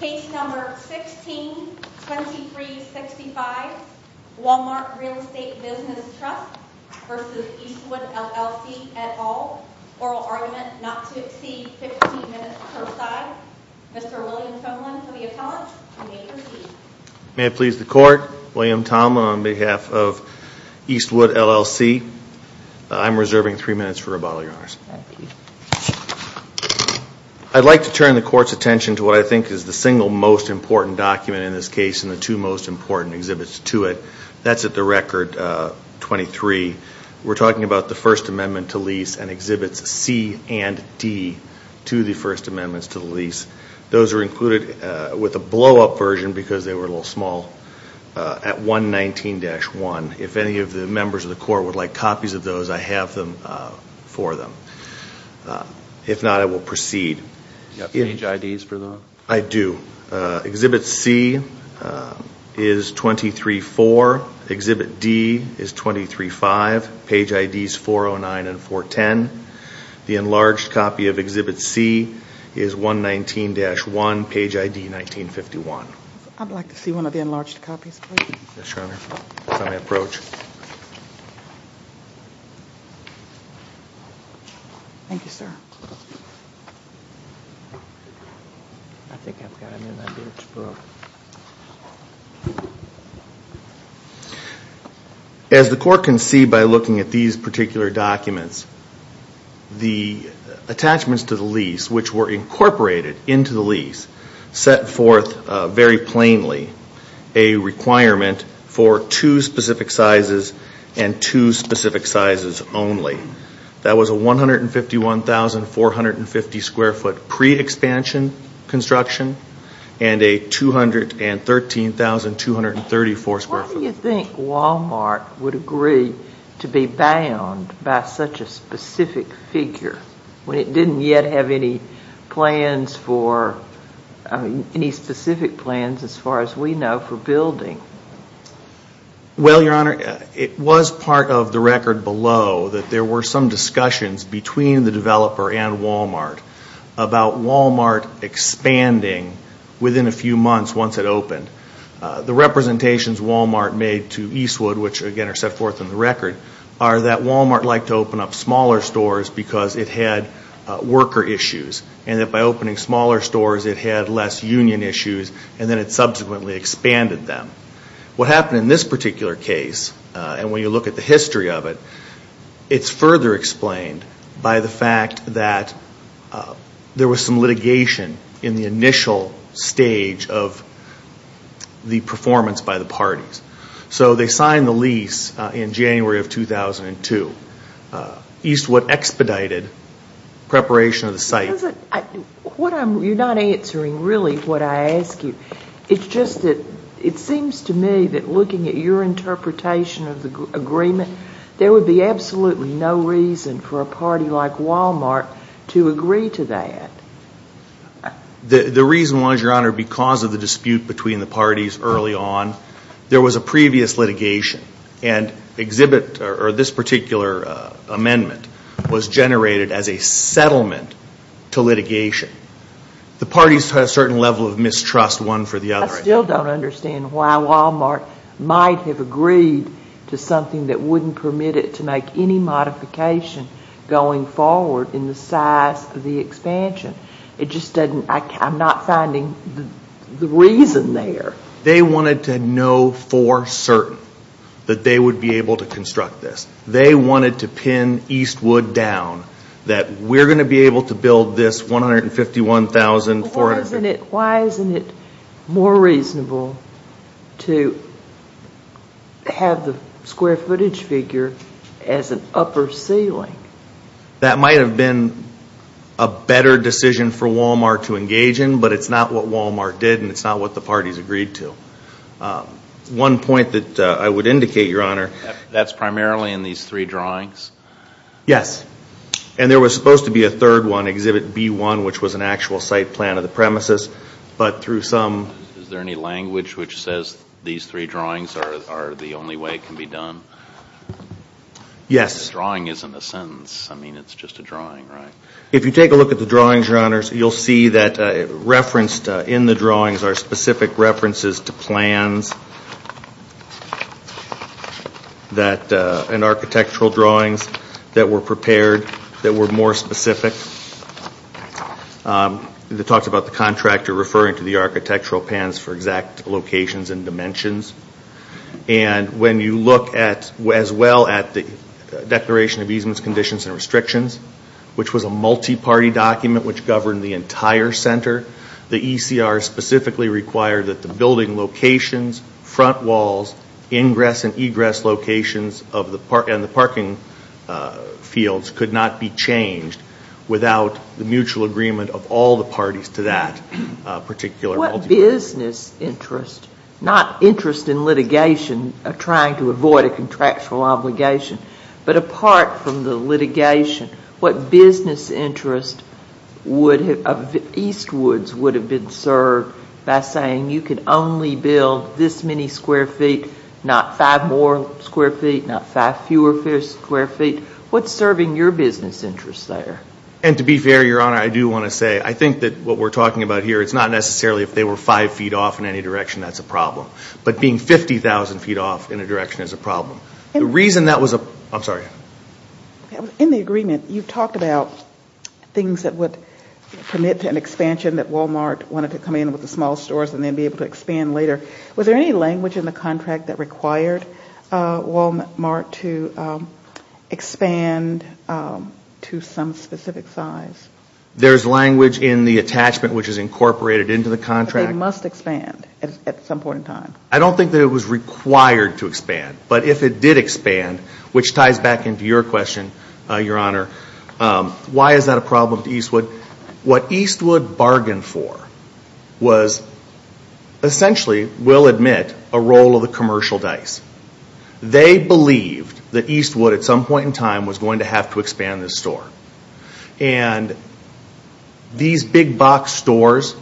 Case number 16-2365, Wal-Mart Real Estate Business Trust v. Eastwood LLC et al. Oral argument not to exceed 15 minutes per side. Mr. William Tomlin for the appellant. You may proceed. May it please the Court, William Tomlin on behalf of Eastwood LLC. I'm reserving three minutes for rebuttal, Your Honors. Thank you. I'd like to turn the Court's attention to what I think is the single most important document in this case and the two most important exhibits to it. That's at the record 23. We're talking about the First Amendment to lease and exhibits C and D to the First Amendments to the lease. Those are included with a blow-up version because they were a little small at 119-1. If any of the members of the Court would like copies of those, I have them for them. If not, I will proceed. Do you have page IDs for those? I do. Exhibit C is 23.4. Exhibit D is 23.5. Page IDs 409 and 410. The enlarged copy of Exhibit C is 119-1, page ID 1951. I'd like to see one of the enlarged copies, please. Yes, Your Honor. It's on my approach. Thank you, sir. As the Court can see by looking at these particular documents, the attachments to the lease, which were incorporated into the lease, set forth very plainly a requirement for two specific sizes and two specific sizes only. That was a 151,450 square foot pre-expansion construction and a 213,234 square foot. Why do you think Walmart would agree to be bound by such a specific figure when it didn't yet have any specific plans, as far as we know, for building? Well, Your Honor, it was part of the record below that there were some discussions between the developer and Walmart about Walmart expanding within a few months once it opened. The representations Walmart made to Eastwood, which again are set forth in the record, are that Walmart liked to open up smaller stores because it had worker issues and that by opening smaller stores it had less union issues and then it subsequently expanded them. What happened in this particular case, and when you look at the history of it, it's further explained by the fact that there was some litigation in the initial stage of the performance by the parties. So they signed the lease in January of 2002. Eastwood expedited preparation of the site. You're not answering really what I ask you. It's just that it seems to me that looking at your interpretation of the agreement, there would be absolutely no reason for a party like Walmart to agree to that. The reason was, Your Honor, because of the dispute between the parties early on, there was a previous litigation and this particular amendment was generated as a settlement to litigation. The parties had a certain level of mistrust one for the other. I still don't understand why Walmart might have agreed to something that wouldn't permit it to make any modification going forward in the size of the expansion. I'm not finding the reason there. They wanted to know for certain that they would be able to construct this. They wanted to pin Eastwood down, that we're going to be able to build this 151,400 feet. Why isn't it more reasonable to have the square footage figure as an upper ceiling? That might have been a better decision for Walmart to engage in, but it's not what Walmart did and it's not what the parties agreed to. One point that I would indicate, Your Honor. That's primarily in these three drawings? Yes. And there was supposed to be a third one, Exhibit B1, which was an actual site plan of the premises, but through some... Is there any language which says these three drawings are the only way it can be done? Yes. Drawing isn't a sentence. I mean, it's just a drawing, right? If you take a look at the drawings, Your Honor, you'll see that referenced in the drawings are specific references to plans and architectural drawings that were prepared that were more specific. It talks about the contractor referring to the architectural plans for exact locations and dimensions. And when you look as well at the Declaration of Easement Conditions and Restrictions, which was a multi-party document which governed the entire center, the ECR specifically required that the building locations, front walls, ingress and egress locations, and the parking fields could not be changed without the mutual agreement of all the parties to that particular... But what business interest, not interest in litigation, trying to avoid a contractual obligation, but apart from the litigation, what business interest of Eastwoods would have been served by saying you can only build this many square feet, not five more square feet, not five fewer square feet? What's serving your business interest there? And to be fair, Your Honor, I do want to say I think that what we're talking about here, it's not necessarily if they were five feet off in any direction that's a problem. But being 50,000 feet off in a direction is a problem. The reason that was a... I'm sorry. In the agreement, you've talked about things that would permit an expansion that Walmart wanted to come in with the small stores and then be able to expand later. Was there any language in the contract that required Walmart to expand to some specific size? There's language in the attachment which is incorporated into the contract. They must expand at some point in time. I don't think that it was required to expand. But if it did expand, which ties back into your question, Your Honor, why is that a problem to Eastwood? What Eastwood bargained for was essentially, we'll admit, a roll of the commercial dice. They believed that Eastwood at some point in time was going to have to expand this store. And these big box stores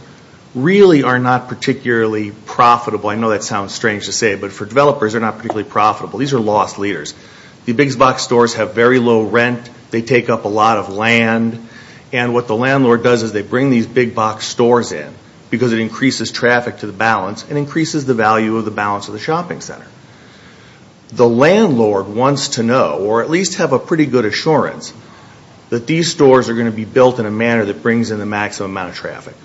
really are not particularly profitable. I know that sounds strange to say, but for developers, they're not particularly profitable. These are lost leaders. The big box stores have very low rent. They take up a lot of land. And what the landlord does is they bring these big box stores in because it increases traffic to the balance and increases the value of the balance of the shopping center. The landlord wants to know, or at least have a pretty good assurance, that these stores are going to be built in a manner that brings in the maximum amount of traffic.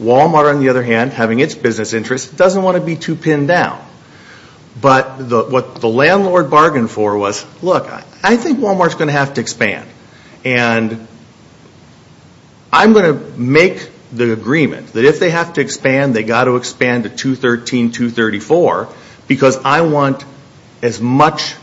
Walmart, on the other hand, having its business interests, doesn't want to be too pinned down. But what the landlord bargained for was, look, I think Walmart's going to have to expand. And I'm going to make the agreement that if they have to expand, they've got to expand to 213, 234 because I want as much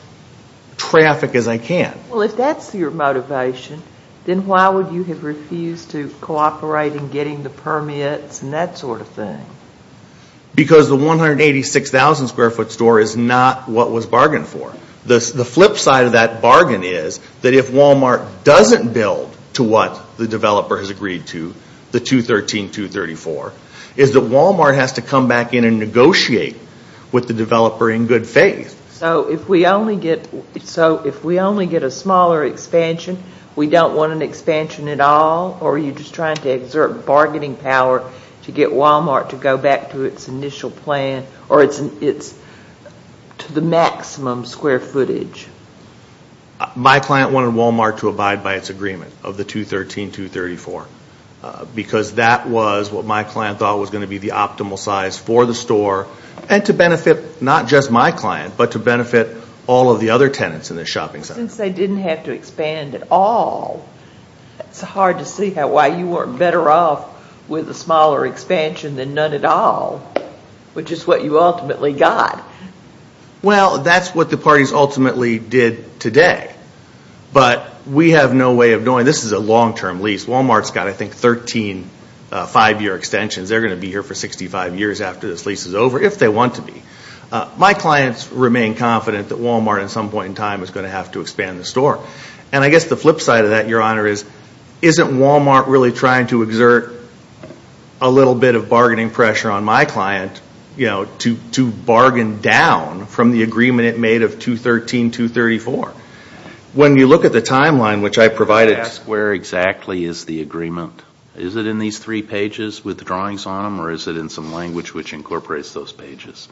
traffic as I can. Well, if that's your motivation, then why would you have refused to cooperate in getting the permits and that sort of thing? Because the 186,000 square foot store is not what was bargained for. The flip side of that bargain is that if Walmart doesn't build to what the developer has agreed to, the 213, 234, is that Walmart has to come back in and negotiate with the developer in good faith. So if we only get a smaller expansion, we don't want an expansion at all? Or are you just trying to exert bargaining power to get Walmart to go back to its initial plan or to the maximum square footage? My client wanted Walmart to abide by its agreement of the 213, 234 because that was what my client thought was going to be the optimal size for the store and to benefit not just my client, but to benefit all of the other tenants in the shopping center. Since they didn't have to expand at all, it's hard to see why you weren't better off with a smaller expansion than none at all, which is what you ultimately got. Well, that's what the parties ultimately did today. But we have no way of knowing. This is a long-term lease. Walmart's got, I think, 13 five-year extensions. They're going to be here for 65 years after this lease is over if they want to be. My clients remain confident that Walmart at some point in time is going to have to expand the store. And I guess the flip side of that, Your Honor, isn't Walmart really trying to exert a little bit of bargaining pressure on my client to bargain down from the agreement it made of 213, 234? When you look at the timeline, which I provided. Where exactly is the agreement? Is it in these three pages with the drawings on them, or is it in some language which incorporates those pages?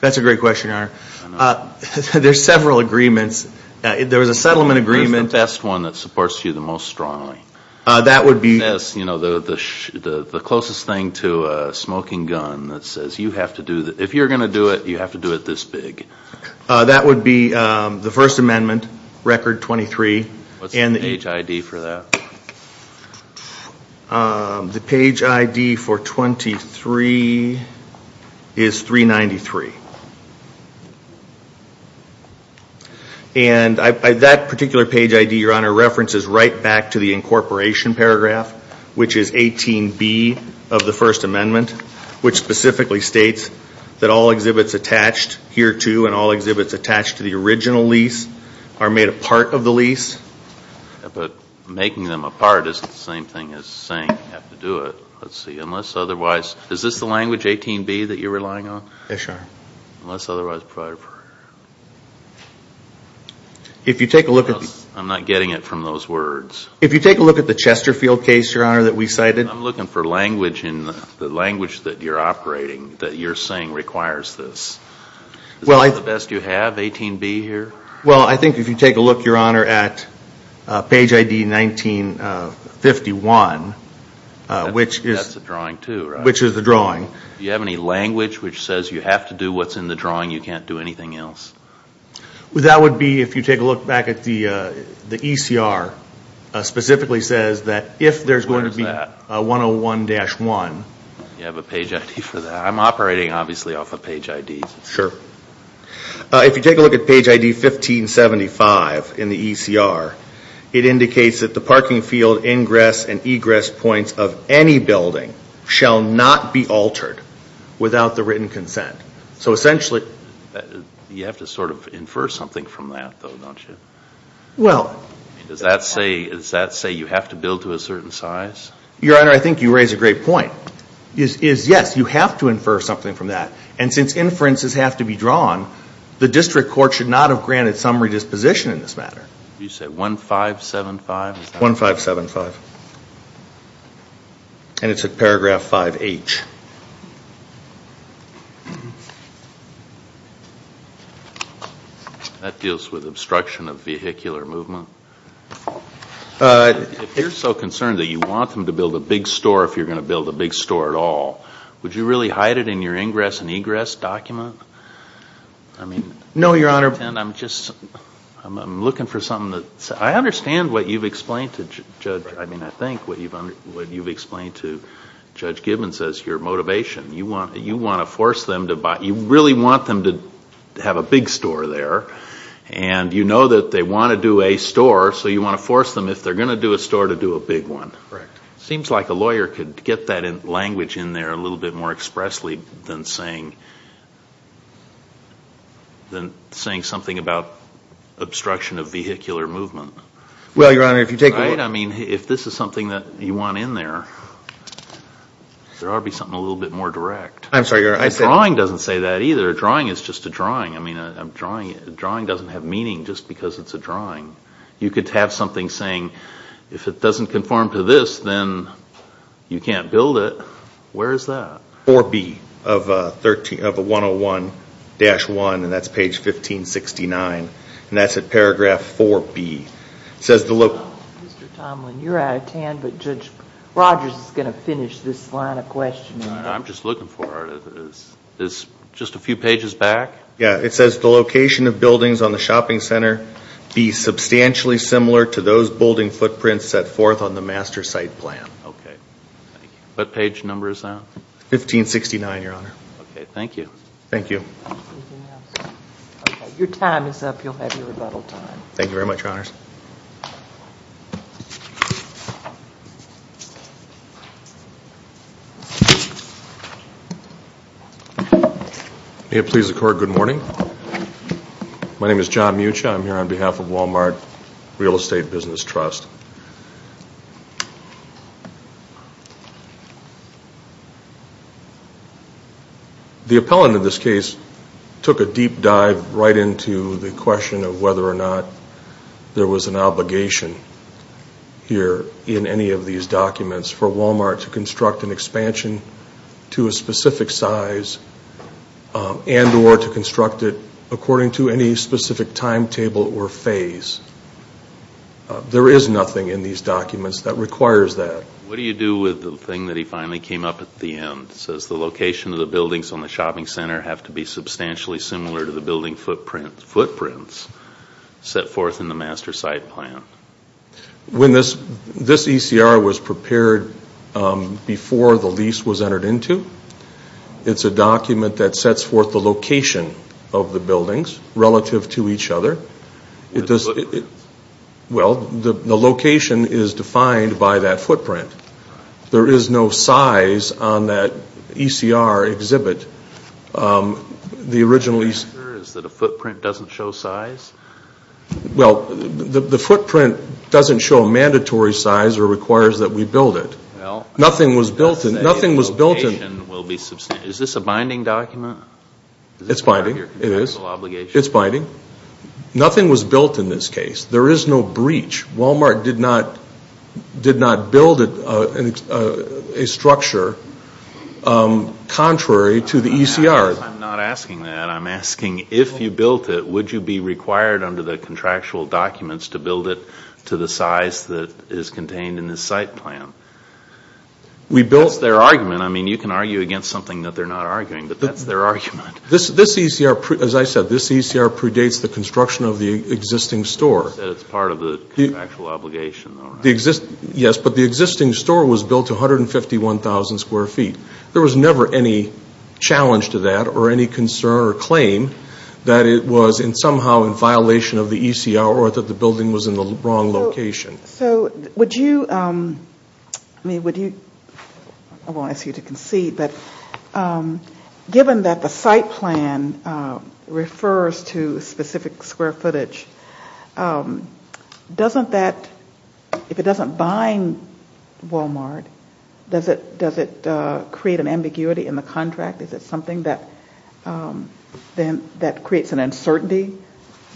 That's a great question, Your Honor. There's several agreements. There was a settlement agreement. What's the best one that supports you the most strongly? That would be. The closest thing to a smoking gun that says, if you're going to do it, you have to do it this big. That would be the First Amendment, Record 23. What's the page ID for that? The page ID for 23 is 393. And that particular page ID, Your Honor, references right back to the incorporation paragraph, which is 18B of the First Amendment, which specifically states that all exhibits attached here to and all exhibits attached to the original lease are made a part of the lease. But making them a part isn't the same thing as saying you have to do it. Let's see. Unless otherwise. Is this the language, 18B, that you're relying on? Yes, Your Honor. Unless otherwise provided for. If you take a look at. I'm not getting it from those words. If you take a look at the Chesterfield case, Your Honor, that we cited. I'm looking for language in the language that you're operating, that you're saying requires this. Is this the best you have, 18B here? Well, I think if you take a look, Your Honor, at page ID 1951, which is. That's the drawing too, right? Which is the drawing. Do you have any language which says you have to do what's in the drawing, you can't do anything else? That would be if you take a look back at the ECR, specifically says that if there's going to be. Where is that? 101-1. You have a page ID for that. I'm operating, obviously, off a page ID. Sure. If you take a look at page ID 1575 in the ECR, it indicates that the parking field ingress and egress points of any building shall not be altered without the written consent. So essentially. You have to sort of infer something from that, though, don't you? Well. Does that say you have to build to a certain size? Your Honor, I think you raise a great point. Yes, you have to infer something from that. And since inferences have to be drawn, the district court should not have granted some redisposition in this matter. You said 1575? 1575. And it's at paragraph 5H. That deals with obstruction of vehicular movement? If you're so concerned that you want them to build a big store, if you're going to build a big store at all, would you really hide it in your ingress and egress document? No, Your Honor. I'm looking for something that's. I understand what you've explained to Judge. I mean, I think what you've explained to Judge Gibbons is your motivation. You want to force them to buy. You really want them to have a big store there. And you know that they want to do a store, so you want to force them, if they're going to do a store, to do a big one. Correct. It seems like a lawyer could get that language in there a little bit more expressly than saying something about obstruction of vehicular movement. Well, Your Honor, if you take a look. Right? I mean, if this is something that you want in there, there ought to be something a little bit more direct. I'm sorry, Your Honor. Drawing doesn't say that either. Drawing is just a drawing. I mean, drawing doesn't have meaning just because it's a drawing. You could have something saying, if it doesn't conform to this, then you can't build it. Where is that? Paragraph 4B of 101-1, and that's page 1569, and that's at paragraph 4B. Mr. Tomlin, you're out of time, but Judge Rogers is going to finish this line of questioning. I'm just looking for it. Is just a few pages back? Yeah. It says, the location of buildings on the shopping center be substantially similar to those building footprints set forth on the master site plan. Okay. What page number is that? 1569, Your Honor. Okay. Thank you. Thank you. Okay. Your time is up. You'll have your rebuttal time. Thank you very much, Your Honors. May it please the Court, good morning. My name is John Mucha. I'm here on behalf of Walmart Real Estate Business Trust. The appellant in this case took a deep dive right into the question of whether or not there was an obligation here in any of these documents for Walmart to construct an expansion to a specific size and or to construct it according to any specific timetable or phase. There is nothing in these documents that requires that. What do you do with the thing that he finally came up with at the end? It says, the location of the buildings on the shopping center have to be substantially similar to the building footprints set forth in the master site plan. When this ECR was prepared before the lease was entered into, it's a document that sets forth the location of the buildings relative to each other. The footprints? Well, the location is defined by that footprint. There is no size on that ECR exhibit. The answer is that a footprint doesn't show size? Well, the footprint doesn't show a mandatory size or requires that we build it. Nothing was built in. Is this a binding document? It's binding. It's binding. Nothing was built in this case. There is no breach. Walmart did not build a structure contrary to the ECR. I'm not asking that. I'm asking if you built it, would you be required under the contractual documents to build it to the size that is contained in the site plan? That's their argument. I mean, you can argue against something that they're not arguing, but that's their argument. This ECR, as I said, this ECR predates the construction of the existing store. You said it's part of the contractual obligation. Yes, but the existing store was built to 151,000 square feet. There was never any challenge to that or any concern or claim that it was somehow in violation of the ECR or that the building was in the wrong location. So would you, I mean, would you, I won't ask you to concede, but given that the site plan refers to specific square footage, doesn't that, if it doesn't bind Walmart, does it create an ambiguity in the contract? Is it something that creates an uncertainty?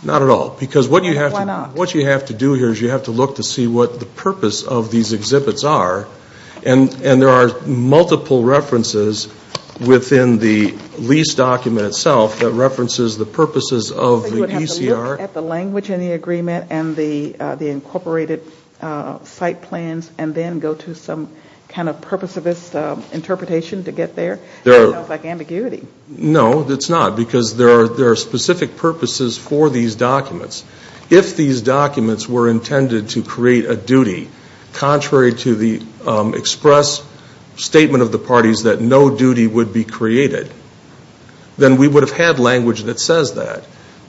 Not at all. Why not? What you have to do here is you have to look to see what the purpose of these exhibits are, and there are multiple references within the lease document itself that references the purposes of the ECR. So you would have to look at the language in the agreement and the incorporated site plans and then go to some kind of purposivist interpretation to get there? It sounds like ambiguity. No, it's not, because there are specific purposes for these documents. If these documents were intended to create a duty contrary to the express statement of the parties that no duty would be created, then we would have had language that says that.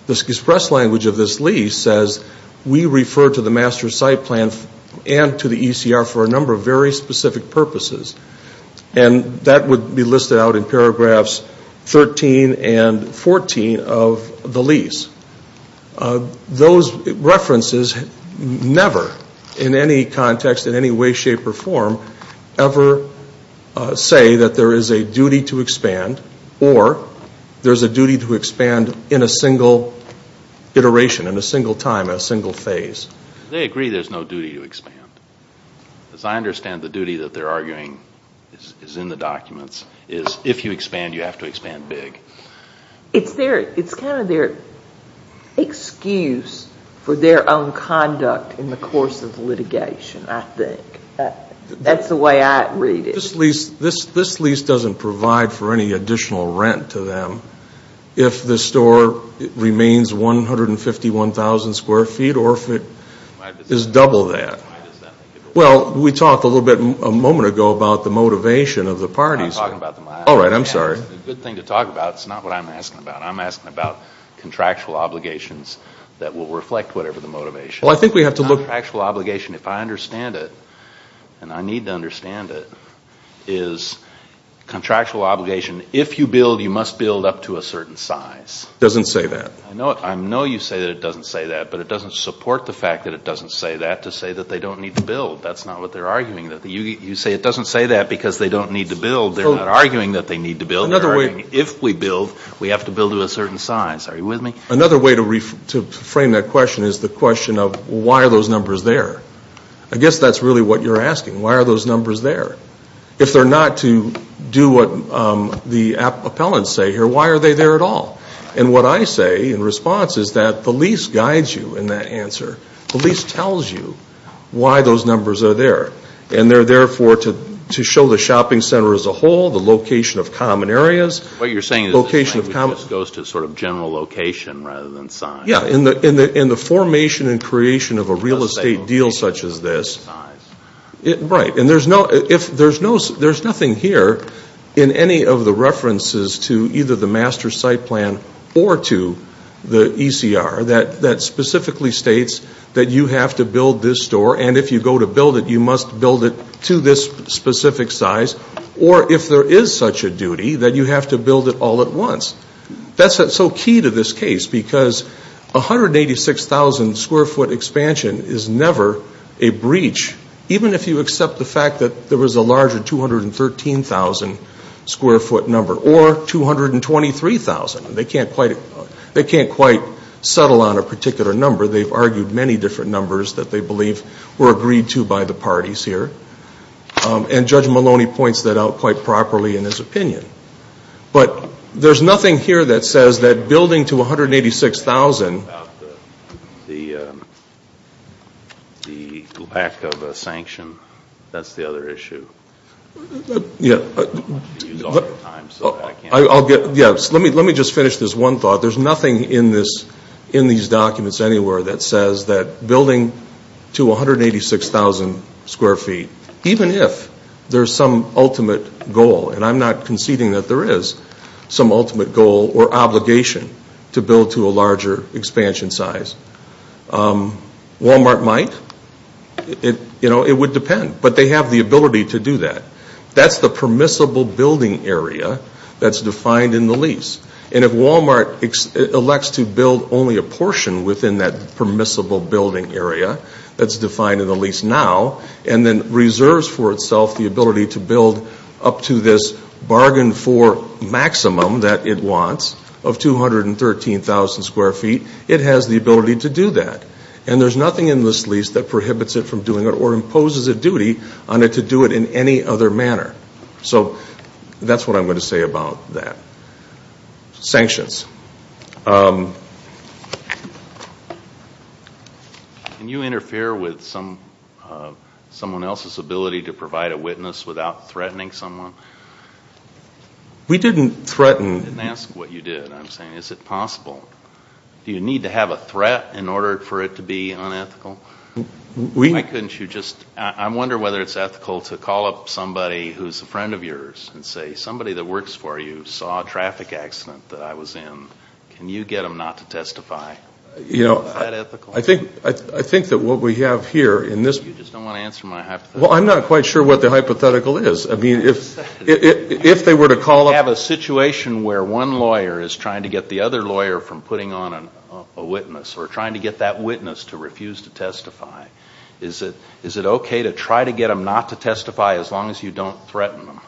The express language of this lease says we refer to the master site plan and to the ECR for a number of very specific purposes, and that would be listed out in paragraphs 13 and 14 of the lease. Those references never, in any context, in any way, shape, or form, ever say that there is a duty to expand or there's a duty to expand in a single iteration, in a single time, in a single phase. They agree there's no duty to expand. Because I understand the duty that they're arguing is in the documents, is if you expand, you have to expand big. It's kind of their excuse for their own conduct in the course of litigation, I think. That's the way I read it. This lease doesn't provide for any additional rent to them if the store remains 151,000 square feet or if it is double that. Well, we talked a little bit a moment ago about the motivation of the parties. I'm not talking about them. All right, I'm sorry. It's a good thing to talk about. It's not what I'm asking about. I'm asking about contractual obligations that will reflect whatever the motivation. Well, I think we have to look. A contractual obligation, if I understand it, and I need to understand it, is contractual obligation, if you build, you must build up to a certain size. It doesn't say that. I know you say that it doesn't say that, but it doesn't support the fact that it doesn't say that to say that they don't need to build. That's not what they're arguing. You say it doesn't say that because they don't need to build. They're not arguing that they need to build. They're arguing if we build, we have to build to a certain size. Are you with me? Another way to frame that question is the question of why are those numbers there? I guess that's really what you're asking. Why are those numbers there? If they're not to do what the appellants say here, why are they there at all? And what I say in response is that the lease guides you in that answer. The lease tells you why those numbers are there, and they're there to show the shopping center as a whole, the location of common areas. What you're saying is this goes to sort of general location rather than size. Yeah, in the formation and creation of a real estate deal such as this. Right, and there's nothing here in any of the references to either the master site plan or to the ECR that specifically states that you have to build this store, and if you go to build it, you must build it to this specific size, or if there is such a duty, that you have to build it all at once. That's so key to this case because 186,000 square foot expansion is never a breach, even if you accept the fact that there was a larger 213,000 square foot number or 223,000. They can't quite settle on a particular number. They've argued many different numbers that they believe were agreed to by the parties here, and Judge Maloney points that out quite properly in his opinion. But there's nothing here that says that building to 186,000. About the lack of a sanction, that's the other issue. Let me just finish this one thought. There's nothing in these documents anywhere that says that building to 186,000 square feet, even if there's some ultimate goal, and I'm not conceding that there is some ultimate goal or obligation to build to a larger expansion size. Walmart might. It would depend, but they have the ability to do that. That's the permissible building area that's defined in the lease, and if Walmart elects to build only a portion within that permissible building area that's defined in the lease now and then reserves for itself the ability to build up to this bargain for maximum that it wants of 213,000 square feet, it has the ability to do that. And there's nothing in this lease that prohibits it from doing it or imposes a duty on it to do it in any other manner. So that's what I'm going to say about that. Sanctions. Sanctions. Can you interfere with someone else's ability to provide a witness without threatening someone? We didn't threaten. I didn't ask what you did. I'm saying is it possible? Do you need to have a threat in order for it to be unethical? Why couldn't you just ñ I wonder whether it's ethical to call up somebody who's a friend of yours and say somebody that works for you saw a traffic accident that I was in. Can you get them not to testify? Is that ethical? I think that what we have here in this ñ You just don't want to answer my hypothetical. Well, I'm not quite sure what the hypothetical is. I mean, if they were to call up ñ You have a situation where one lawyer is trying to get the other lawyer from putting on a witness or trying to get that witness to refuse to testify. Is it okay to try to get them not to testify as long as you don't threaten them?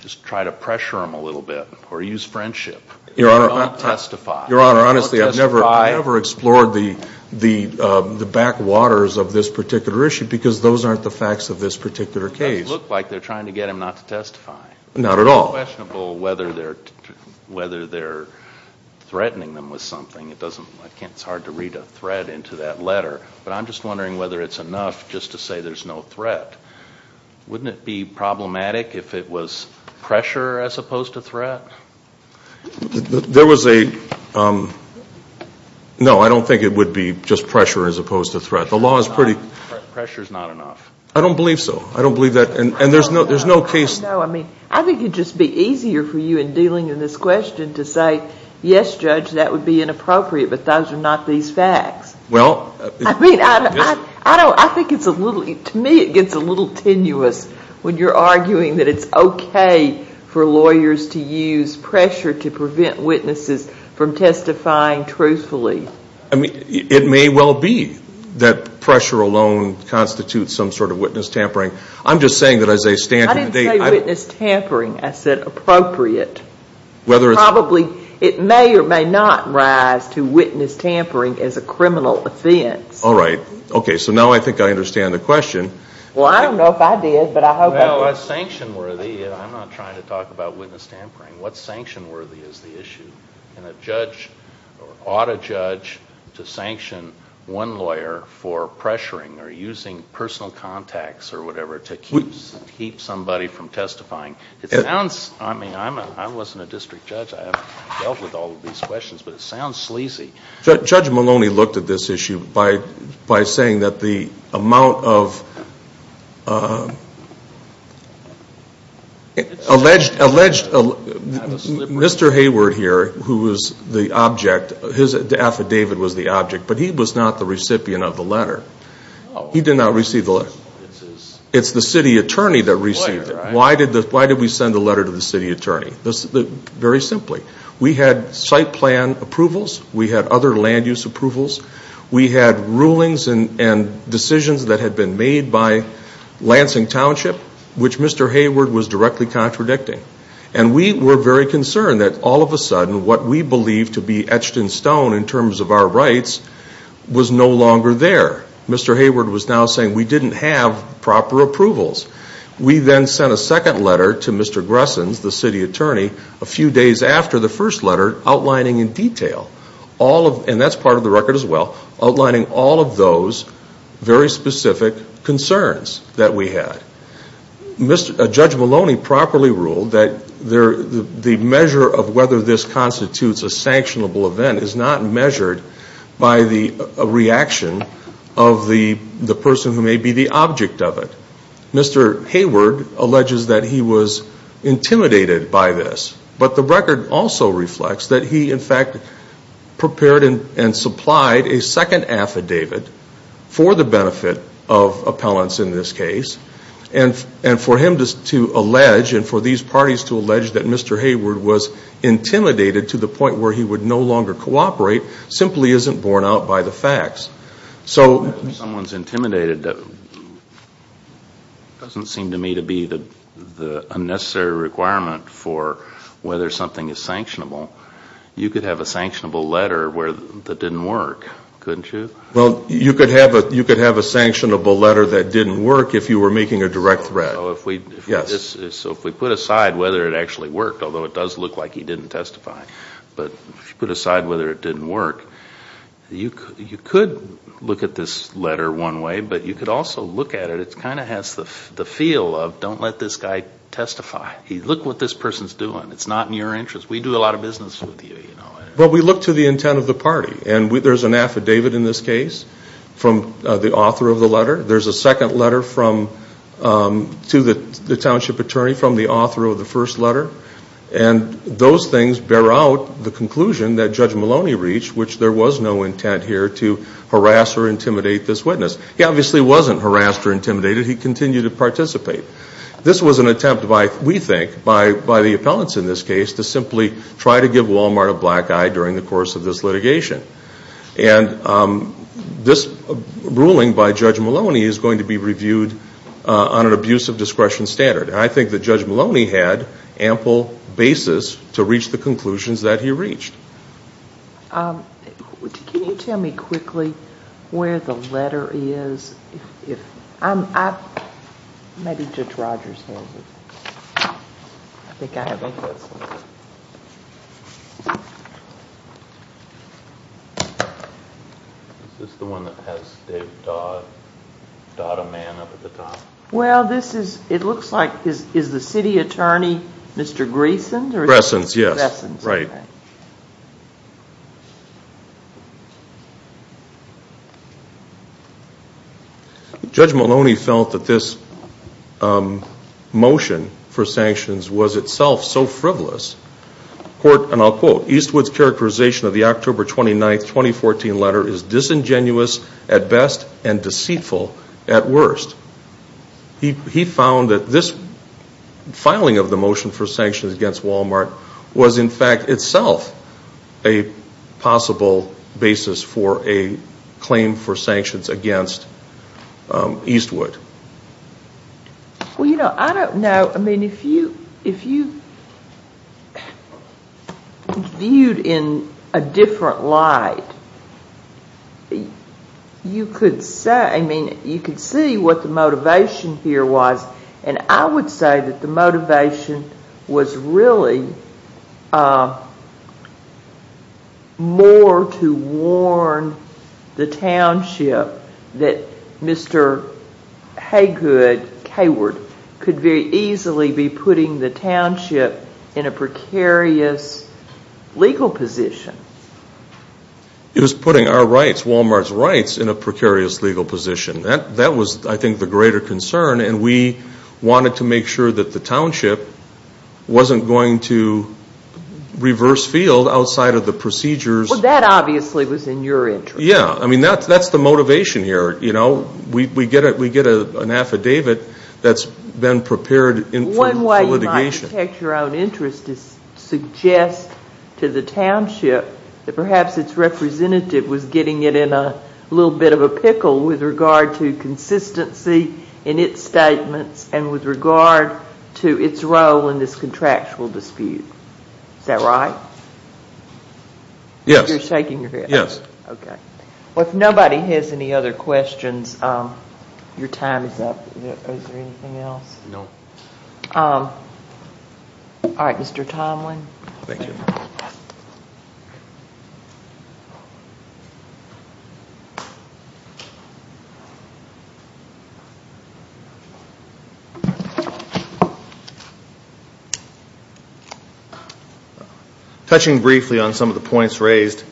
Just try to pressure them a little bit or use friendship. Your Honor, honestly, I've never explored the backwaters of this particular issue because those aren't the facts of this particular case. It looks like they're trying to get them not to testify. Not at all. It's questionable whether they're threatening them with something. It's hard to read a threat into that letter. But I'm just wondering whether it's enough just to say there's no threat. Wouldn't it be problematic if it was pressure as opposed to threat? There was a ñ No, I don't think it would be just pressure as opposed to threat. The law is pretty ñ Pressure's not enough. I don't believe so. I don't believe that. And there's no case ñ No, I mean, I think it would just be easier for you in dealing in this question to say, yes, Judge, that would be inappropriate, but those are not these facts. Well ñ I mean, I don't ñ I think it's a little ñ to me it gets a little tenuous when you're arguing that it's okay for lawyers to use pressure to prevent witnesses from testifying truthfully. I mean, it may well be that pressure alone constitutes some sort of witness tampering. I'm just saying that as I stand here today ñ I didn't say witness tampering. I said appropriate. Whether it's ñ Probably it may or may not rise to witness tampering as a criminal offense. All right. Okay, so now I think I understand the question. Well, I don't know if I did, but I hope I did. Well, a sanction worthy ñ and I'm not trying to talk about witness tampering. What's sanction worthy is the issue. And a judge ought to judge to sanction one lawyer for pressuring or using personal contacts or whatever to keep somebody from testifying. It sounds ñ I mean, I wasn't a district judge. I haven't dealt with all of these questions, but it sounds sleazy. Judge Maloney looked at this issue by saying that the amount of alleged ñ Mr. Hayward here, who was the object, his affidavit was the object, but he was not the recipient of the letter. He did not receive the letter. It's the city attorney that received it. Why did we send the letter to the city attorney? Very simply, we had site plan approvals. We had other land use approvals. We had rulings and decisions that had been made by Lansing Township, which Mr. Hayward was directly contradicting. And we were very concerned that all of a sudden what we believed to be etched in stone in terms of our rights was no longer there. Mr. Hayward was now saying we didn't have proper approvals. We then sent a second letter to Mr. Gressens, the city attorney, a few days after the first letter, outlining in detail all of ñ and that's part of the record as well ñ outlining all of those very specific concerns that we had. Judge Maloney properly ruled that the measure of whether this constitutes a sanctionable event is not measured by the reaction of the person who may be the object of it. Mr. Hayward alleges that he was intimidated by this. But the record also reflects that he, in fact, prepared and supplied a second affidavit for the benefit of appellants in this case. And for him to allege, and for these parties to allege, that Mr. Hayward was intimidated to the point where he would no longer cooperate simply isn't borne out by the facts. If someone's intimidated, it doesn't seem to me to be the unnecessary requirement for whether something is sanctionable. You could have a sanctionable letter that didn't work, couldn't you? Well, you could have a sanctionable letter that didn't work if you were making a direct threat. So if we put aside whether it actually worked, although it does look like he didn't testify, but if you put aside whether it didn't work, you could look at this letter one way, but you could also look at it. It kind of has the feel of don't let this guy testify. Look what this person's doing. It's not in your interest. We do a lot of business with you. Well, we look to the intent of the party. And there's an affidavit in this case from the author of the letter. There's a second letter to the township attorney from the author of the first letter. And those things bear out the conclusion that Judge Maloney reached, which there was no intent here to harass or intimidate this witness. He obviously wasn't harassed or intimidated. He continued to participate. This was an attempt, we think, by the appellants in this case to simply try to give Walmart a black eye during the course of this litigation. And this ruling by Judge Maloney is going to be reviewed on an abuse of discretion standard. And I think that Judge Maloney had ample basis to reach the conclusions that he reached. Can you tell me quickly where the letter is? Maybe Judge Rogers has it. I think I have it. Is this the one that has Dave Dodd, Dodd a man, up at the top? Well, this is, it looks like, is the city attorney Mr. Grayson? Grayson, yes, right. Judge Maloney felt that this motion for sanctions was itself so frivolous, and I'll quote, Eastwood's characterization of the October 29, 2014 letter is disingenuous at best and deceitful at worst. He found that this filing of the motion for sanctions against Walmart was, in fact, itself a possible basis for a claim for sanctions against Eastwood. Well, you know, I don't know. I mean, if you viewed in a different light, you could say, I mean, you could see what the motivation here was. And I would say that the motivation was really more to warn the township that Mr. Haygood, Hayward, could very easily be putting the township in a precarious legal position. It was putting our rights, Walmart's rights, in a precarious legal position. That was, I think, the greater concern. And we wanted to make sure that the township wasn't going to reverse field outside of the procedures. Well, that obviously was in your interest. Yeah. I mean, that's the motivation here. You know, we get an affidavit that's been prepared for litigation. One way you might protect your own interest is to suggest to the township that perhaps its representative was getting it in a little bit of a pickle with regard to consistency in its statements and with regard to its role in this contractual dispute. Is that right? Yes. You're shaking your head. Yes. Okay. Well, if nobody has any other questions, your time is up. Is there anything else? No. All right, Mr. Tomlin. Thank you. Touching briefly on some of the points raised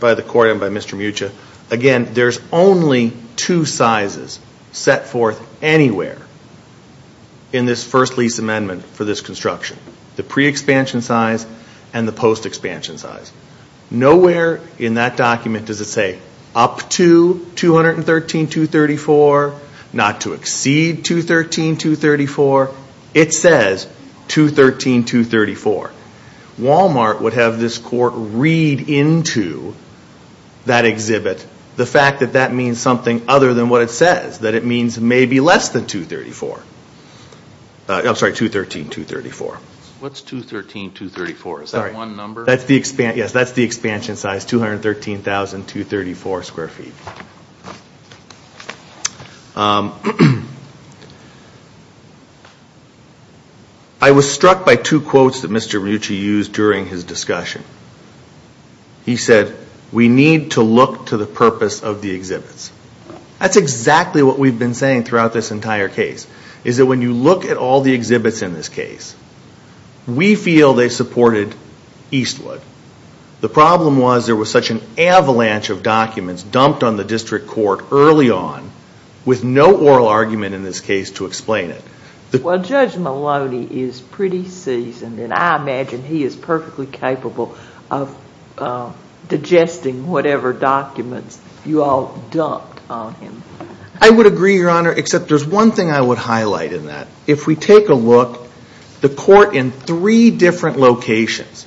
by the court and by Mr. Mucha, again, there's only two sizes set forth anywhere in this first lease amendment for this construction. The pre-expansion size and the post-expansion size. Nowhere in that document does it say up to 213.234, not to exceed 213.234. It says 213.234. Walmart would have this court read into that exhibit the fact that that means something other than what it says, that it means maybe less than 213.234. What's 213.234? Is that one number? Yes, that's the expansion size, 213,234 square feet. I was struck by two quotes that Mr. Mucha used during his discussion. He said, we need to look to the purpose of the exhibits. That's exactly what we've been saying throughout this entire case, is that when you look at all the exhibits in this case, we feel they supported Eastwood. The problem was there was such an avalanche of documents dumped on the district court early on with no oral argument in this case to explain it. Well, Judge Maloney is pretty seasoned, and I imagine he is perfectly capable of digesting whatever documents you all dumped on him. I would agree, Your Honor, except there's one thing I would highlight in that. If we take a look, the court in three different locations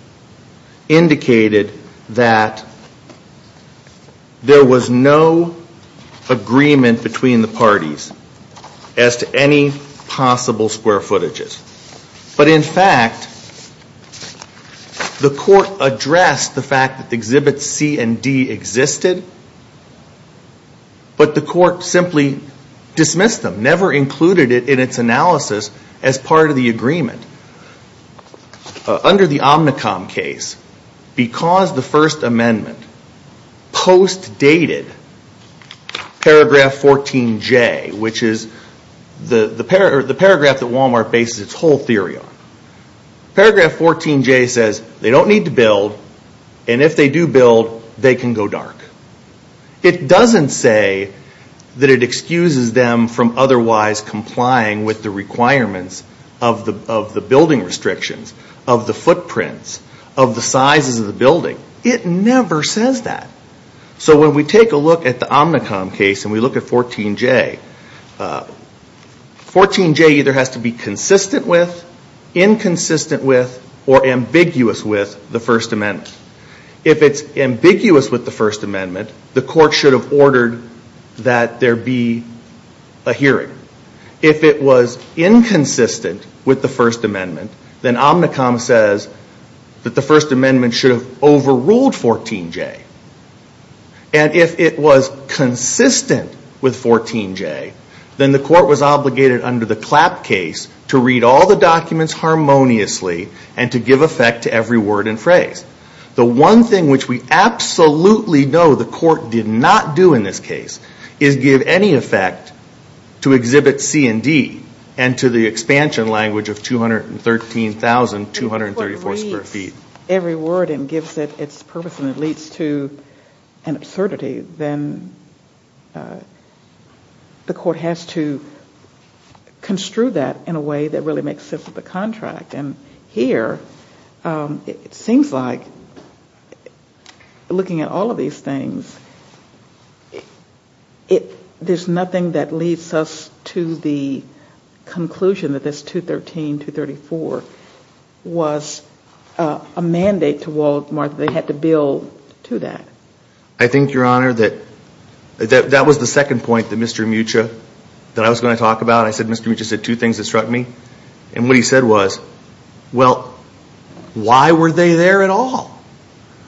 indicated that there was no agreement between the parties as to any possible square footages. But in fact, the court addressed the fact that Exhibits C and D existed, but the court simply dismissed them, never included it in its analysis as part of the agreement. Under the Omnicom case, because the First Amendment post-dated Paragraph 14J, which is the paragraph that Walmart bases its whole theory on, Paragraph 14J says they don't need to build, and if they do build, they can go dark. It doesn't say that it excuses them from otherwise complying with the requirements of the building restrictions, of the footprints, of the sizes of the building. It never says that. So when we take a look at the Omnicom case and we look at 14J, 14J either has to be consistent with, inconsistent with, or ambiguous with the First Amendment. If it's ambiguous with the First Amendment, the court should have ordered that there be a hearing. If it was inconsistent with the First Amendment, then Omnicom says that the First Amendment should have overruled 14J. And if it was consistent with 14J, then the court was obligated under the Clapp case to read all the documents harmoniously and to give effect to every word and phrase. The one thing which we absolutely know the court did not do in this case is give any effect to Exhibit C and D and to the expansion language of 213,234 square feet. If the court reads every word and gives it its purpose and it leads to an absurdity, then the court has to construe that in a way that really makes sense with the contract. And here, it seems like looking at all of these things, there's nothing that leads us to the conclusion that this 213,234 was a mandate to Walt Marth. They had to build to that. I think, Your Honor, that that was the second point that Mr. Mucha, that I was going to talk about. I said Mr. Mucha said two things that struck me. And what he said was, well, why were they there at all?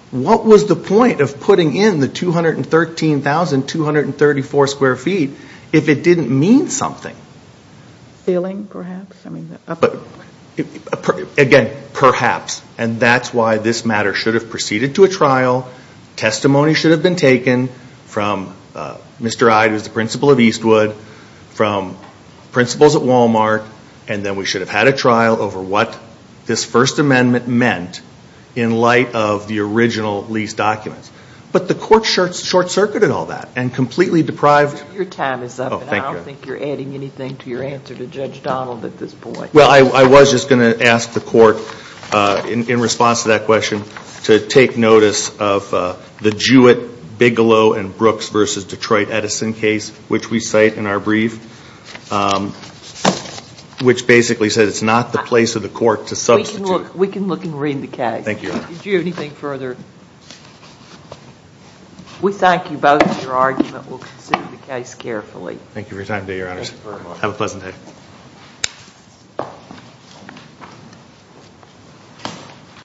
What was the point of putting in the 213,234 square feet if it didn't mean something? Stealing, perhaps? Again, perhaps. And that's why this matter should have proceeded to a trial. Testimony should have been taken from Mr. Ide, who is the principal of Eastwood, from principals at Wal-Mart, and then we should have had a trial over what this First Amendment meant in light of the original lease documents. But the court short-circuited all that and completely deprived. Your time is up. Oh, thank you. I don't think you're adding anything to your answer to Judge Donald at this point. Well, I was just going to ask the court, in response to that question, to take notice of the Jewett, Bigelow, and Brooks v. Detroit Edison case, which we cite in our brief, which basically says it's not the place of the court to substitute. We can look and read the case. Thank you, Your Honor. Did you have anything further? We thank you both for your argument. We'll consider the case carefully. Thank you for your time today, Your Honors. Thank you very much. Have a pleasant day.